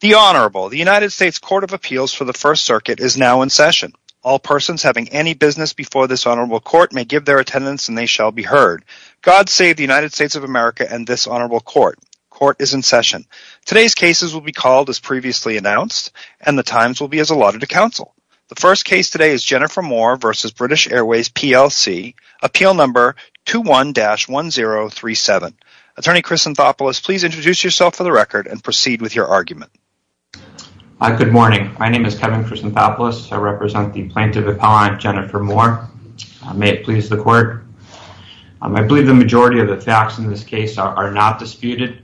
The Honorable, the United States Court of Appeals for the First Circuit is now in session. All persons having any business before this Honorable Court may give their attendance and they shall be heard. God save the United States of America and this Honorable Court. Court is in session. Today's cases will be called as previously announced and the times will be as allotted to counsel. The first case today is Jennifer Moore v. British Airways PLC, Appeal Number 21-1037. Attorney Chris Anthopoulos, please introduce yourself for the record and your argument. Good morning. My name is Kevin Chris Anthopoulos. I represent the Plaintiff Appellant Jennifer Moore. May it please the Court. I believe the majority of the facts in this case are not disputed.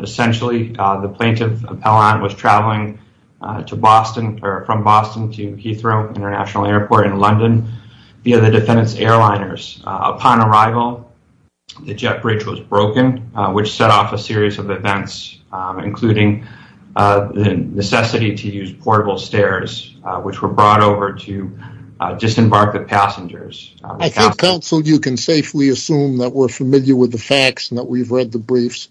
Essentially, the Plaintiff Appellant was traveling to Boston or from Boston to Heathrow International Airport in London via the defendant's airliners. Upon arrival, the jet bridge was broken, which set off a series of events, including the necessity to use portable stairs, which were brought over to disembark the passengers. I think counsel, you can safely assume that we're familiar with the facts and that we've read the briefs.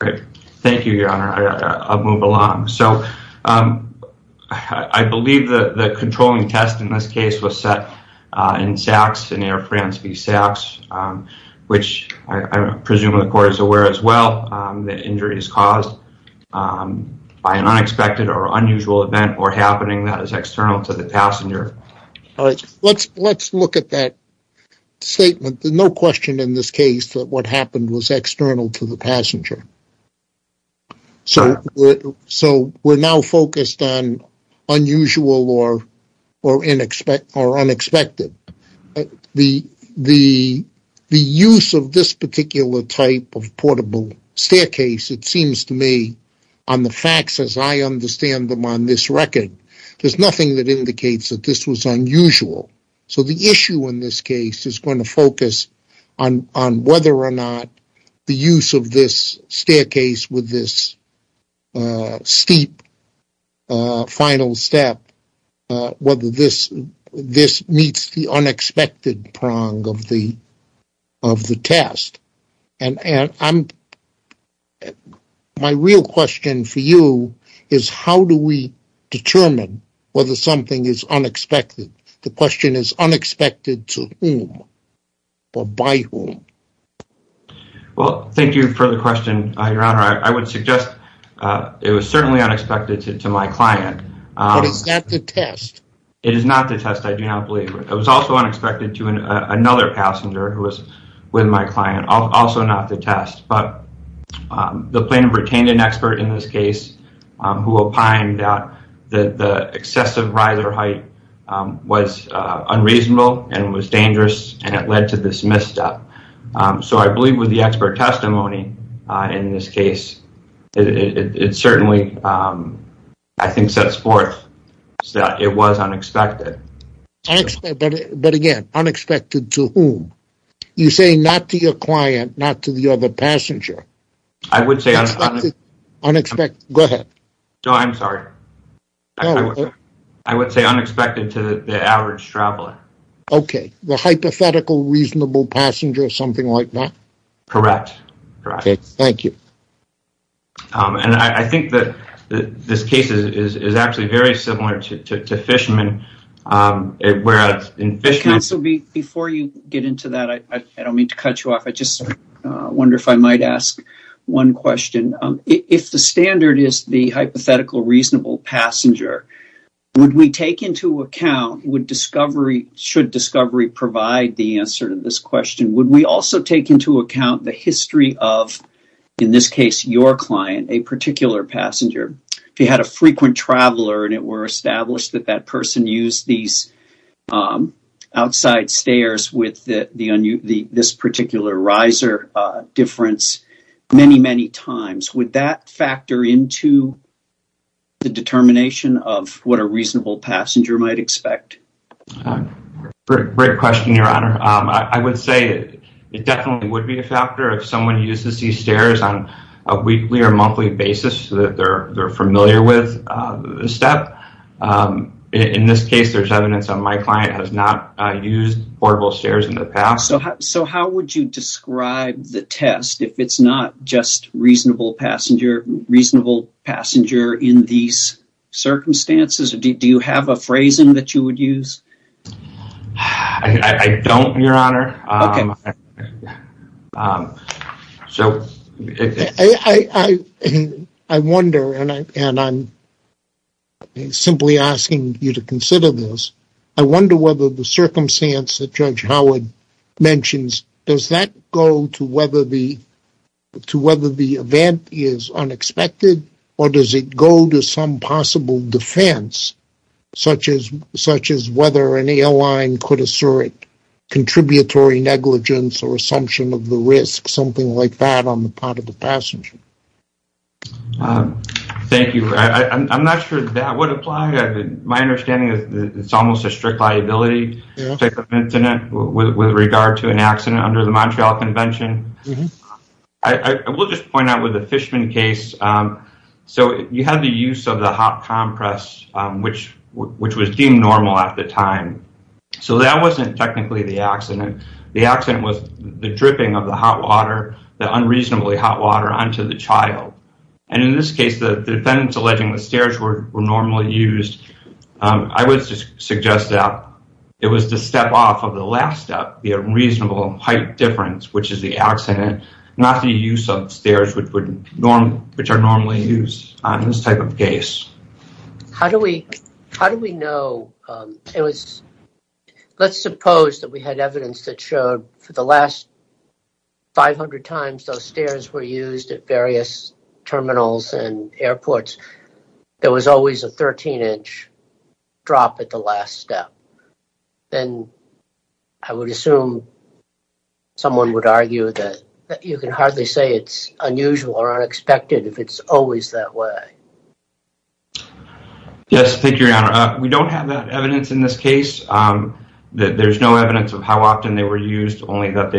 Great. Thank you, Your Honor. I'll move along. So, I believe the controlling test in this case was set in SACS, in Air France v. SACS, which I presume the Court is aware as well that injury is caused by an unexpected or unusual event or happening that is external to the passenger. Let's look at that statement. There's no question in this case that what happened was external to the passenger. So, we're now focused on unusual or unexpected. The use of this particular type of portable staircase, it seems to me, on the facts as I understand them on this record, there's nothing that indicates that this was unusual. So, the issue in this case is going to this staircase with this steep final step, whether this meets the unexpected prong of the test. My real question for you is how do we determine whether something is unexpected? The question is unexpected to whom or by whom? Well, thank you for the question, Your Honor. I would suggest it was certainly unexpected to my client. But it's not the test. It is not the test, I do not believe. It was also unexpected to another passenger who was with my client, also not the test. But the plaintiff retained an expert in this case who opined that the excessive riser height was unreasonable and was dangerous and it led to this misstep. So, I believe with the expert testimony in this case, it certainly, I think, sets forth that it was unexpected. But again, unexpected to whom? You say not to your client, not to the other passenger. I would say unexpected. Go ahead. No, I'm sorry. I would say unexpected to the average traveler. Okay. The hypothetical reasonable passenger, something like that? Correct. Okay, thank you. And I think that this case is actually very similar to Fishman, whereas in Fishman... Counsel, before you get into that, I don't mean to cut you off. I just wonder if I might ask one question. If the standard is the hypothetical reasonable passenger, would we take into account, should discovery provide the answer to this question, would we also take into account the history of, in this case, your client, a particular passenger? If you had a frequent traveler and it were established that that person used these particular riser difference many, many times, would that factor into the determination of what a reasonable passenger might expect? Great question, Your Honor. I would say it definitely would be a factor if someone uses these stairs on a weekly or monthly basis that they're familiar with the step. In this case, there's evidence that my client has not used portable stairs in the past. So how would you describe the test if it's not just reasonable passenger in these circumstances? Do you have a phrasing that you would use? I don't, Your Honor. Okay. I wonder, and I'm simply asking you to consider this, I wonder whether the circumstance that mentions, does that go to whether the event is unexpected or does it go to some possible defense, such as whether an airline could assert contributory negligence or assumption of the risk, something like that on the part of the passenger? Thank you. I'm not sure that would apply. My understanding is that it's almost a strict liability type of incident with regard to an accident under the Montreal Convention. I will just point out with the Fishman case, so you had the use of the hot compress, which was deemed normal at the time. So that wasn't technically the accident. The accident was the dripping of the hot water, the unreasonably hot water, onto the child. And in this case, the defendants alleging the stairs were normally used, I would suggest that it was the step off of the last step, the unreasonable height difference, which is the accident, not the use of stairs which are normally used on this type of case. How do we know? Let's suppose that we had evidence that showed for the last 500 times those stairs were used at various terminals and airports, there was always a 13-inch drop at the last step. Then I would assume someone would argue that you can hardly say it's unusual or unexpected if it's always that way. Yes, thank you, Your Honor. We don't have that evidence in this case. There's no evidence of how often they were used, only that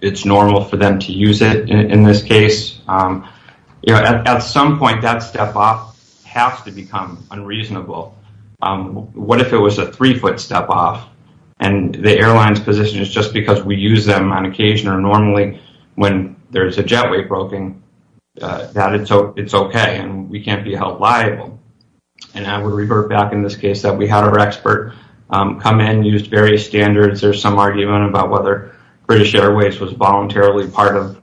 it's normal for them to use it in this case. At some point, that step off has to become unreasonable. What if it was a three-foot step off and the airline's position is just because we use them on occasion or normally when there's a jetway broken, that it's okay and we can't be held liable? And I would revert back in this case that we had our expert come in, used various standards. There's some argument about whether British Airways was voluntarily part of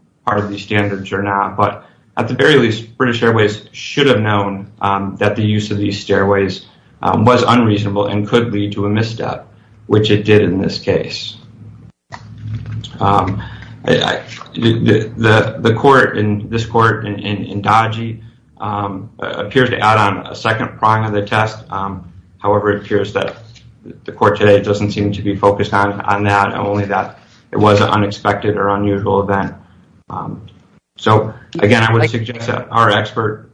these standards or not. But at the very least, British Airways should have known that the use of these stairways was unreasonable and could lead to a misstep, which it did in this case. The court, this court in Dodgy, appears to add on a second prong of the test. However, it appears that the court today doesn't seem to be focused on that, only that it was an unexpected or unusual event. So again, I would suggest that our expert...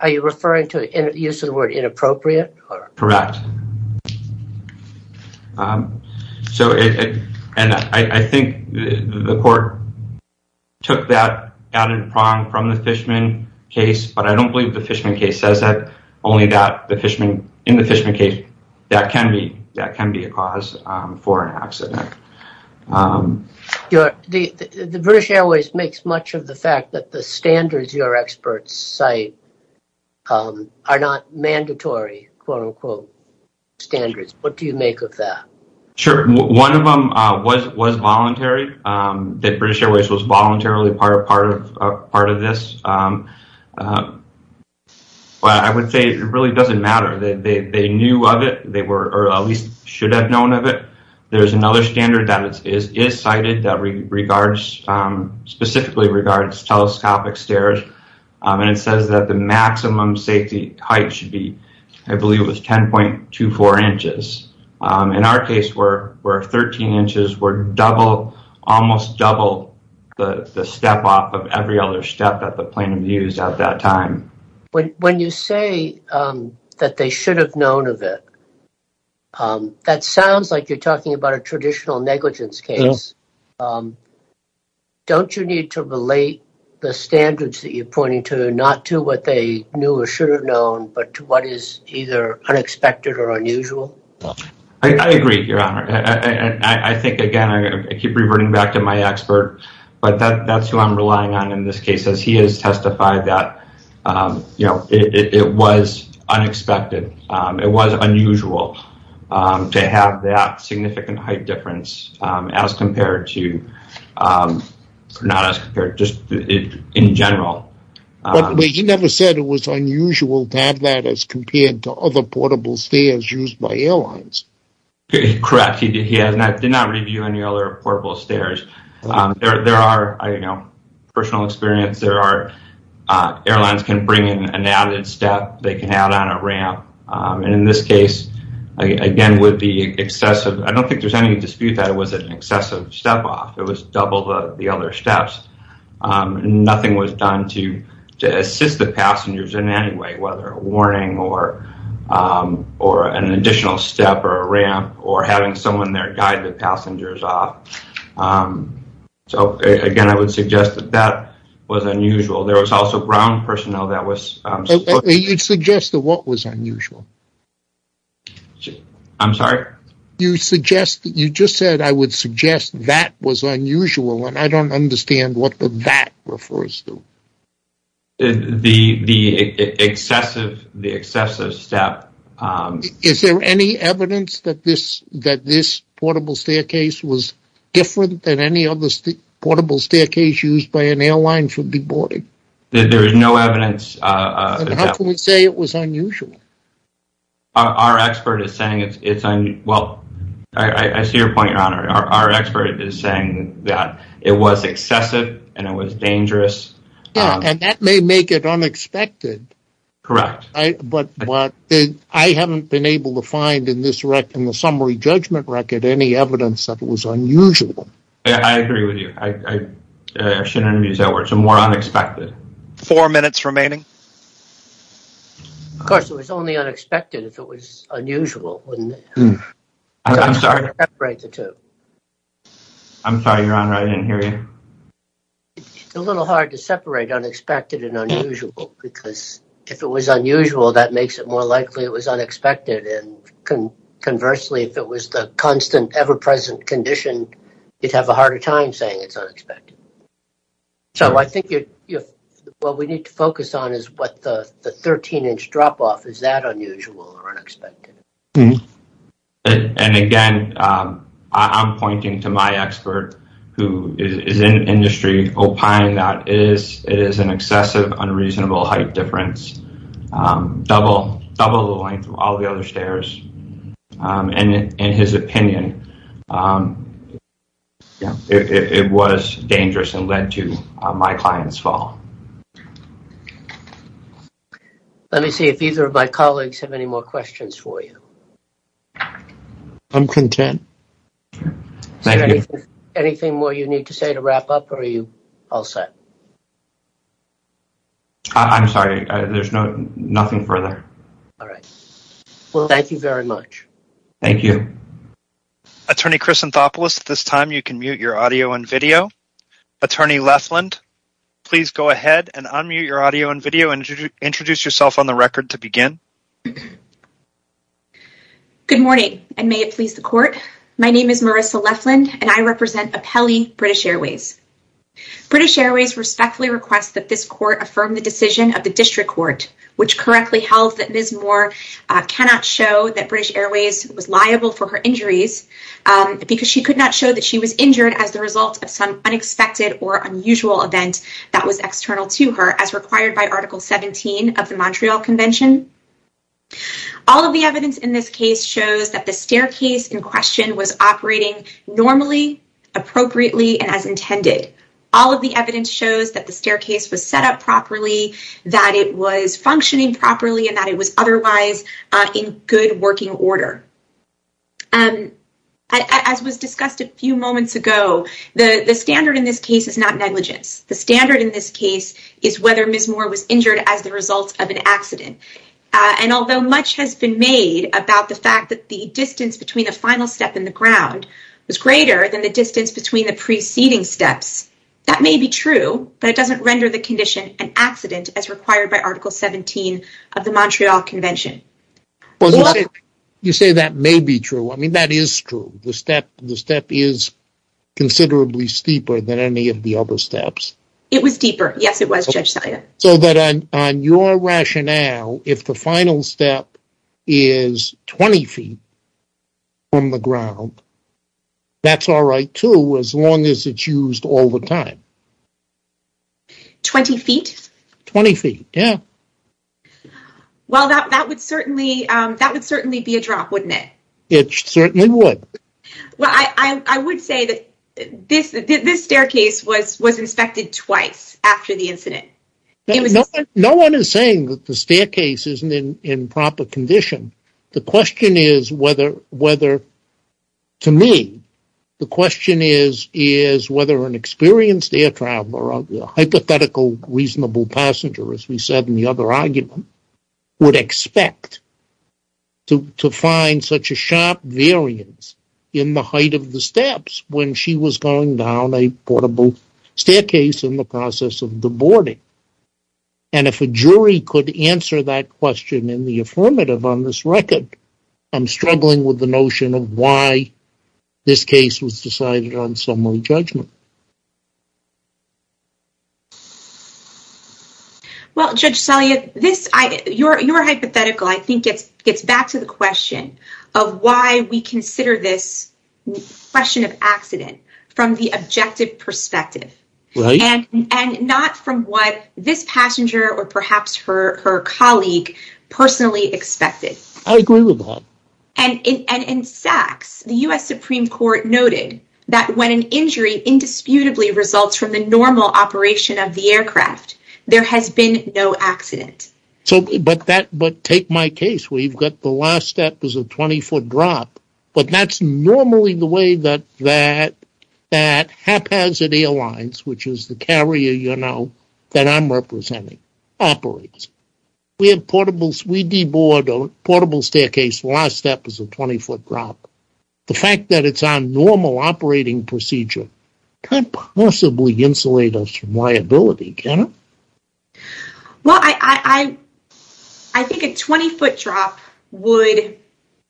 Are you referring to the use of the word inappropriate? Correct. And I think the court took that added prong from the Fishman case, but I don't believe the Fishman case says that. Only that in the Fishman case, that can be a cause for an accident. The British Airways makes much of the fact that the standards your experts cite are not mandatory, quote unquote, standards. What do you make of that? Sure. One of them was voluntary, that British Airways was voluntarily part of this. But I would say it really doesn't matter. They knew of it, or at least should have known of it. There's another standard that is cited that specifically regards telescopic stairs, and it says that the maximum safety height should be, I believe it was 10.24 inches. In our case, we're at 13 inches. We're almost double the step off of every other step that the plaintiff used at that time. When you say that they should have known of it, that sounds like you're talking about a traditional negligence case. Don't you need to relate the standards that you're pointing to, not to what they knew or should have known, but to what is either unexpected or unusual? I agree, Your Honor. I think, again, I keep reverting back to my expert, but that's who I'm relying on in this case, as he has testified that it was unexpected. It was unusual to have that significant height difference as compared to, not as compared, just in general. But he never said it was unusual to have that as compared to other portable stairs used by airlines. Correct. He did not review any other portable stairs. There are, I don't know, personal and in this case, again, with the excessive, I don't think there's any dispute that it was an excessive step off. It was double the other steps. Nothing was done to assist the passengers in any way, whether a warning or an additional step or a ramp or having someone there guide the passengers off. So, again, I would suggest that that was unusual. There was also ground I'm sorry? You suggest, you just said, I would suggest that was unusual, and I don't understand what the that refers to. The excessive step. Is there any evidence that this portable staircase was different than any other portable staircase used by an airline for big boarding? There is no evidence. How can we say it was unusual? Our expert is saying it's, well, I see your point, your honor. Our expert is saying that it was excessive and it was dangerous. And that may make it unexpected. Correct. But I haven't been able to find in this record, in the summary judgment record, any evidence that it was unusual. I agree with you. I shouldn't have used that word. So more unexpected. Four minutes remaining. Of course, it was only unexpected if it was unusual. I'm sorry to separate the two. I'm sorry, your honor, I didn't hear you. It's a little hard to separate unexpected and unusual because if it was unusual, that makes it more likely it was unexpected. And conversely, if it was the constant, ever-present condition, you'd have a harder time saying it's unexpected. So I think what we need to focus on is what the 13-inch drop-off, is that unusual or unexpected? And again, I'm pointing to my expert who is in industry opine that it is an excessive, unreasonable height difference, double the length of all the other stairs. And in his opinion, it was dangerous and led to my client's fall. Let me see if either of my colleagues have any more questions for you. I'm content. Thank you. Anything more you need to say to wrap up or are you all set? I'm sorry, there's nothing further. All right. Well, thank you very much. Thank you. Attorney Chris Anthopoulos, at this time you can mute your audio and video. Attorney Lefland, please go ahead and unmute your audio and video and introduce yourself on the record to begin. Good morning and may it please the court. My name is Marissa Lefland and I represent Apelli British Airways. British Airways respectfully request that this court affirm the decision of the district court, which correctly held that Ms. Moore cannot show that British Airways was liable for her injuries because she could not show that she was injured as the result of some unexpected or unusual event that was external to her as required by Article 17 of the Montreal Convention. All of the evidence in this case shows that the staircase in question was operating normally, appropriately, and as intended. All of the that it was functioning properly and that it was otherwise in good working order. As was discussed a few moments ago, the standard in this case is not negligence. The standard in this case is whether Ms. Moore was injured as the result of an accident. And although much has been made about the fact that the distance between the final step and the ground was greater than the distance between the preceding steps, that may be true, but it is not true. The step is considerably steeper than any of the other steps. It was deeper. Yes, it was. So that on your rationale, if the final step is 20 feet from the ground, that's all right too as long as it's used all the time. 20 feet? 20 feet, yeah. Well, that would certainly be a drop, wouldn't it? It certainly would. Well, I would say that this staircase was inspected twice after the incident. No one is saying that the staircase isn't in proper condition. The question is whether, to me, the question is whether an experienced air traveler or a hypothetical reasonable passenger, as we said in the other argument, would expect to find such a sharp variance in the height of the steps when she was going down a portable staircase in the process of the boarding. And if a jury could answer that question in the affirmative on this record, I'm struggling with the notion of why this case was decided on summary judgment. Well, Judge Saliat, your hypothetical, I think, gets back to the question of why we consider this question of accident from the objective perspective and not from what this passenger or perhaps her colleague personally expected. I agree with that. And in Saks, the U.S. Supreme Court noted that when an injury indisputably results from the normal operation of the aircraft, there has been no accident. But take my case where you've got the last step is a 20-foot drop, but that's normally the way that that haphazard airlines, which is the carrier, you know, that I'm representing, operates. We have portables, we deboard a portable staircase, the last step is a 20-foot drop. The fact that it's on normal operating procedure could possibly insulate us from liability, can it? Well, I think a 20-foot drop would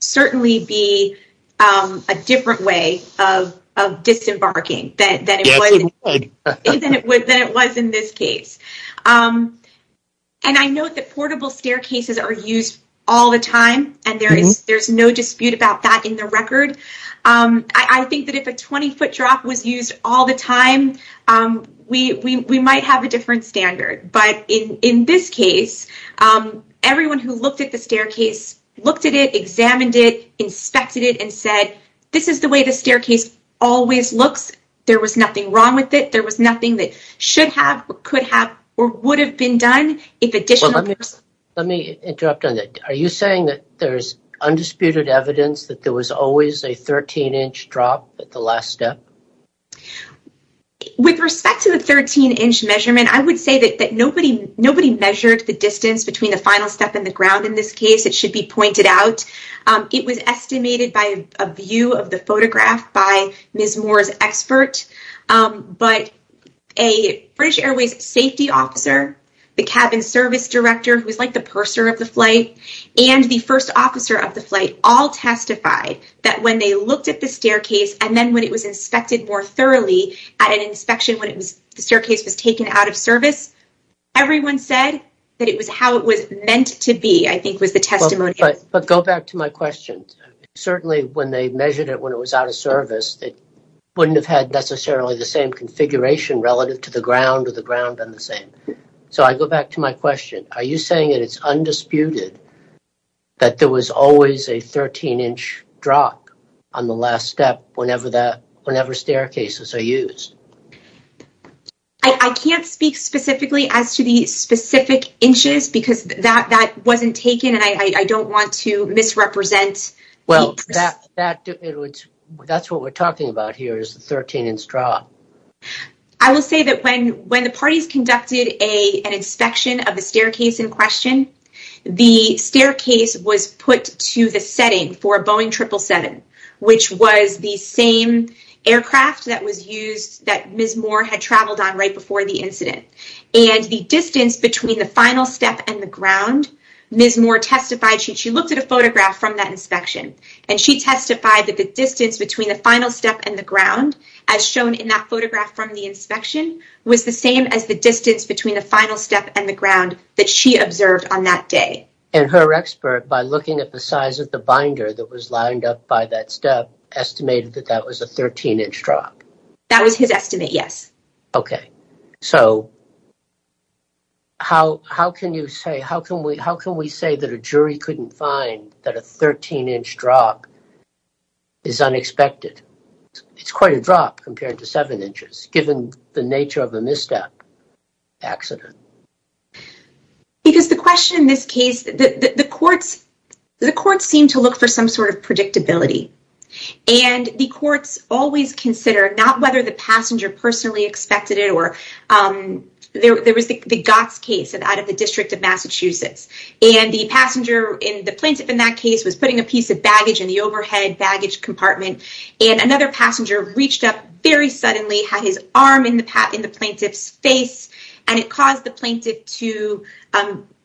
certainly be a different way of disembarking than it was in this case. And I know that portable staircases are used all the time, and there's no dispute about that in the record. I think that if a 20-foot drop was used all the time, we might have a standard. But in this case, everyone who looked at the staircase looked at it, examined it, inspected it, and said, this is the way the staircase always looks. There was nothing wrong with it. There was nothing that should have, could have, or would have been done. Let me interrupt on that. Are you saying that there's undisputed evidence that there was always a 13-inch drop at the last step? With respect to the 13-inch measurement, I would say that nobody measured the distance between the final step and the ground in this case. It should be pointed out. It was estimated by a view of the photograph by Ms. Moore's expert, but a British Airways safety officer, the cabin service director, who was like the purser of the flight, and the first officer of the flight all testified that when they looked at the staircase, and then when it was inspected more thoroughly at an inspection, when the staircase was taken out of service, everyone said that it was how it was meant to be, I think, was the testimony. But go back to my question. Certainly, when they measured it when it was out of service, it wouldn't have had necessarily the same configuration relative to the ground or the ground and the same. So I go back to my question. Are you saying that it's undisputed that there was always a 13-inch drop on the last step whenever staircases are used? I can't speak specifically as to the specific inches because that wasn't taken and I don't want to misrepresent. Well, that's what we're talking about here is the 13-inch drop. I will say that when the parties conducted an inspection of the staircase in question, the staircase was put to the setting for a Boeing 777, which was the same aircraft that was used that Ms. Moore had traveled on right before the incident. And the distance between the final step and the ground, Ms. Moore testified, she looked at a photograph from that inspection, and she testified that the distance between the final step and the ground, as shown in that photograph from the inspection, was the same as the distance between the final step and the ground that she observed on that day. And her expert, by looking at the size of the binder that was lined up by that step, estimated that that was a 13-inch drop. That was his estimate, yes. Okay, so how can you say, how can we say that a jury couldn't find that a 13-inch drop is unexpected? It's quite a drop compared to seven inches, given the nature of a misstep accident. Because the question in this case, the courts seem to look for some sort of predictability. And the courts always consider, not whether the passenger personally expected it, or there was the Gotts case out of the District of Massachusetts. And the passenger, the plaintiff in that case, was putting a piece of baggage in the overhead baggage compartment, and another passenger reached up very suddenly, had his arm in the plaintiff's face, and it caused the plaintiff to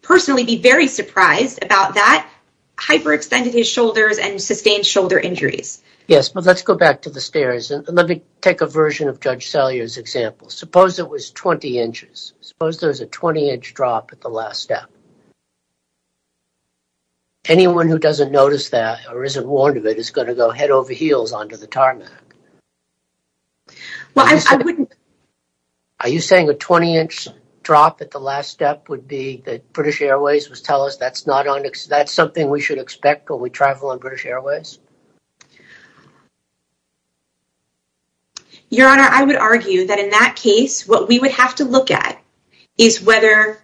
personally be very surprised about that, hyperextended his shoulders, and sustained shoulder injuries. Yes, but let's go back to the stairs, and let me take a version of Judge Salyer's example. Suppose it was 20 inches. Suppose there's a 20-inch drop at the last step. Anyone who doesn't notice that, or isn't warned of it, is going to go head over heels onto the would be that British Airways would tell us that's something we should expect when we travel on British Airways? Your Honor, I would argue that in that case, what we would have to look at is whether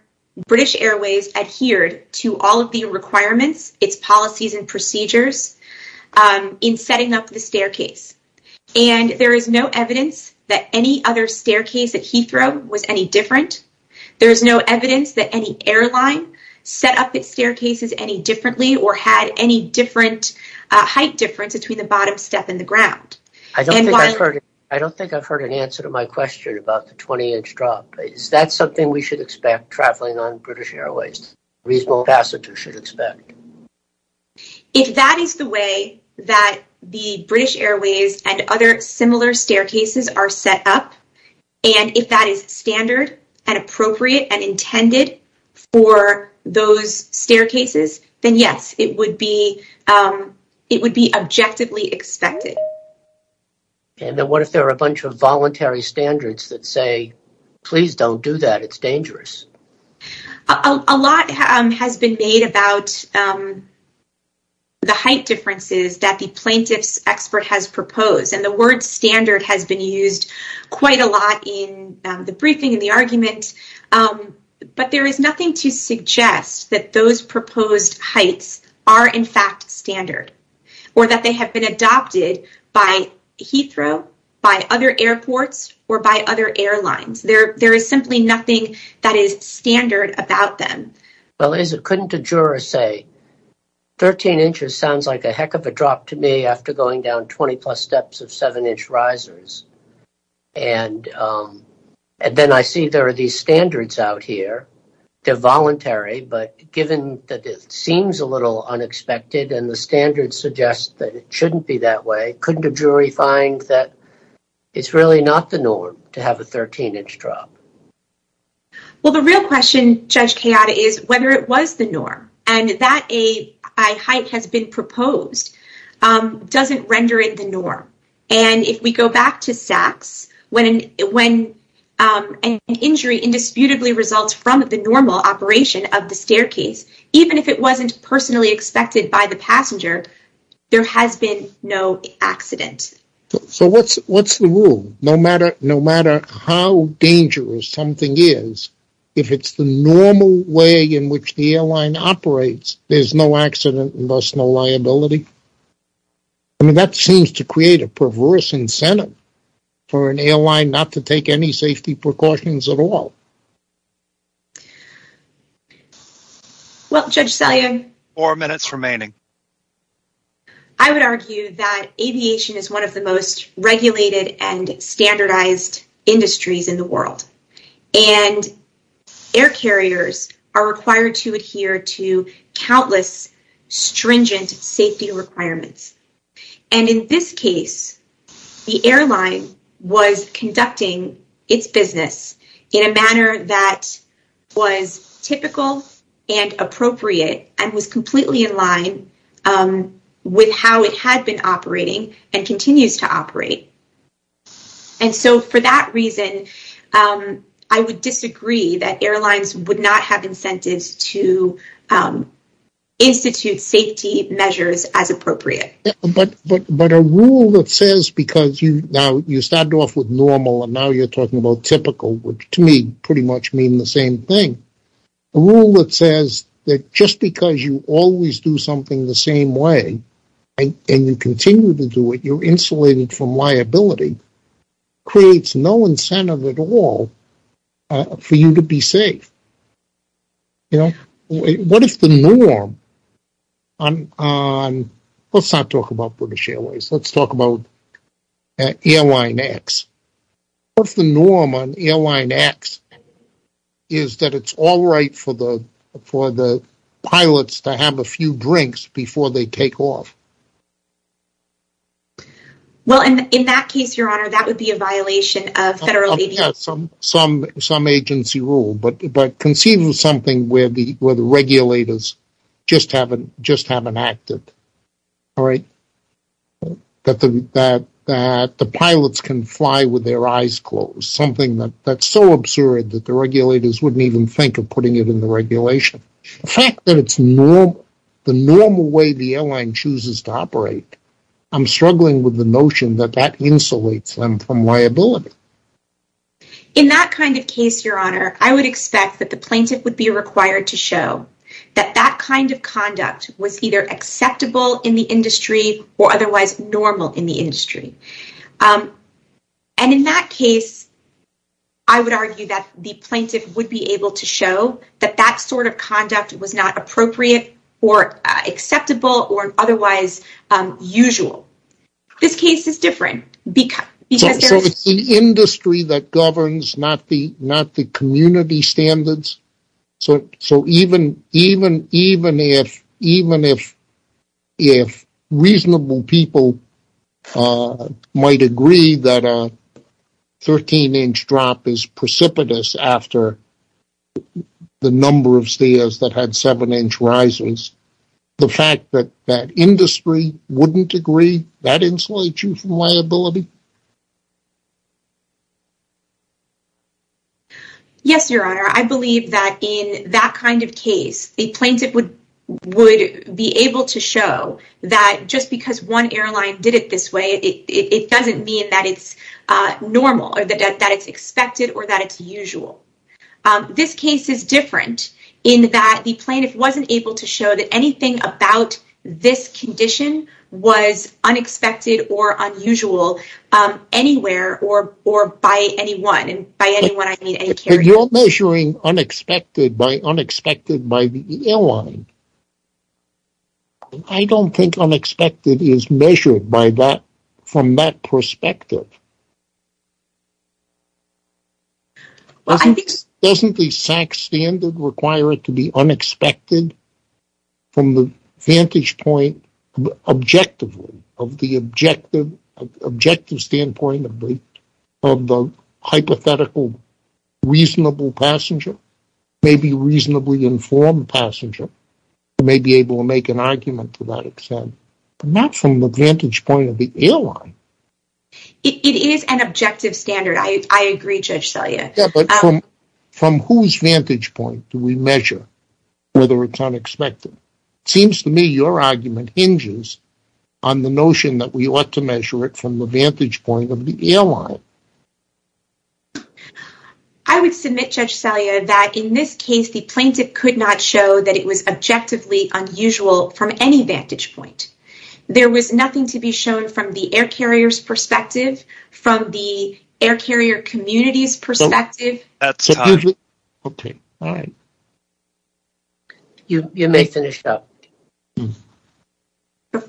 British Airways adhered to all of the requirements, its policies and procedures in setting up the staircase. And there is no evidence that any other staircase at Heathrow was any different. There is no evidence that any airline set up its staircases any differently or had any different height difference between the bottom step and the ground. I don't think I've heard an answer to my question about the 20-inch drop. Is that something we should expect traveling on British Airways? A reasonable passenger should expect. If that is the way that the British Airways and other similar staircases are set up, and if that is standard and appropriate and intended for those staircases, then yes, it would be objectively expected. And then what if there are a bunch of voluntary standards that say, please don't do that. It's dangerous. A lot has been made about the height differences that the plaintiff's expert has proposed. And the word standard has been used quite a lot in the briefing and the argument. But there is nothing to suggest that those proposed heights are in fact standard or that they have been adopted by Heathrow, by other airports, or by other airlines. There is simply nothing that is standard about them. Well, couldn't a juror say 13 inches sounds like a heck of a drop to me after going down 20-plus steps of 7-inch risers? And then I see there are these standards out here. They're voluntary, but given that it seems a little unexpected and the standards suggest that it shouldn't be that way, couldn't a jury find that it's really not the norm to have a 13-inch drop? Well, the real question, Judge Kayada, is whether it was the norm. And that a high height has been proposed doesn't render it the norm. And if we go back to SACS, when an injury indisputably results from the normal operation of the staircase, even if it wasn't personally expected by the passenger, there has been no accident. So what's the rule? No matter how dangerous something is, if it's the normal way in which the airline operates, there's no accident and thus no liability. I mean, that seems to create a perverse incentive for an airline not to take any safety precautions at all. Well, Judge Salyer. Four minutes remaining. I would argue that aviation is one of the most regulated and standardized industries in the world. And air carriers are required to adhere to countless stringent safety requirements. And in this case, the airline was conducting its business in a manner that was typical and appropriate and was completely in line with how it had been operating and continues to operate. And so for that reason, I would disagree that airlines would not have incentives to institute safety measures as appropriate. But a rule that says because you now you started off with normal and now you're talking about typical, which to me pretty much mean the same thing. A rule that says that just because you always do something the same way and you continue to do it, you're insulated from liability, creates no incentive at all for you to be safe. What if the norm on, let's not talk about British Airways, let's talk about Airline X. What if the norm on Airline X is that it's all right for the pilots to have a few drinks before they take off? Well, in that case, your honor, that would be a violation of some agency rule. But conceive of something where the regulators just haven't acted, all right? That the pilots can fly with their eyes closed. Something that's so absurd that the regulators wouldn't even think of putting it in the regulation. The fact that it's the normal way the airline chooses to operate, I'm struggling with the notion that that insulates them from liability. In that kind of case, your honor, I would expect that the plaintiff would be required to show that that kind of conduct was either acceptable in the industry or otherwise normal in the industry. And in that case, I would argue that the plaintiff would be able to show that that sort of conduct was not appropriate or acceptable or otherwise usual. This case is different. So it's the industry that governs, not the community standards? So even if reasonable people might agree that a 13-inch drop is precipitous after the number of stairs that had seven-inch rises, the fact that that industry wouldn't agree, that insulates you from liability? Yes, your honor. I believe that in that kind of case, the plaintiff would be able to show that just because one airline did it this way, it doesn't mean that it's normal or that it's expected or that it's usual. This case is different in that the plaintiff wasn't able to show that anything about this condition was unexpected or unusual anywhere or by anyone. If you're measuring unexpected by unexpected by the airline, I don't think unexpected is measured from that perspective. Doesn't the SACS standard require it to be unexpected from the vantage point objectively, of the objective standpoint of the hypothetical reasonable passenger, maybe reasonably informed passenger, who may be able to make an argument to that extent, but not from the vantage point of the airline? It is an objective standard. I agree, Judge Selya. From whose vantage point do we measure whether it's unexpected? It seems to me your argument hinges on the notion that we ought to measure it from the vantage point of the airline. I would submit, Judge Selya, that in this case the plaintiff could not show that it was objectively unusual from any vantage point. There was nothing to be shown from the air carrier's perspective, from the air carrier community's perspective. That's time. Okay, all right. You may finish up.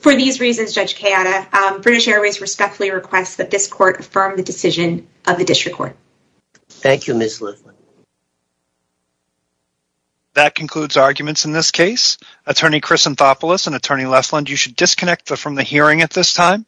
For these reasons, Judge Kayada, British Airways respectfully requests that this court affirm the decision of the district court. Thank you, Ms. Leflin. That concludes arguments in this case. Attorney Chris Anthopoulos and Attorney Leflin, you should disconnect from the hearing at this time.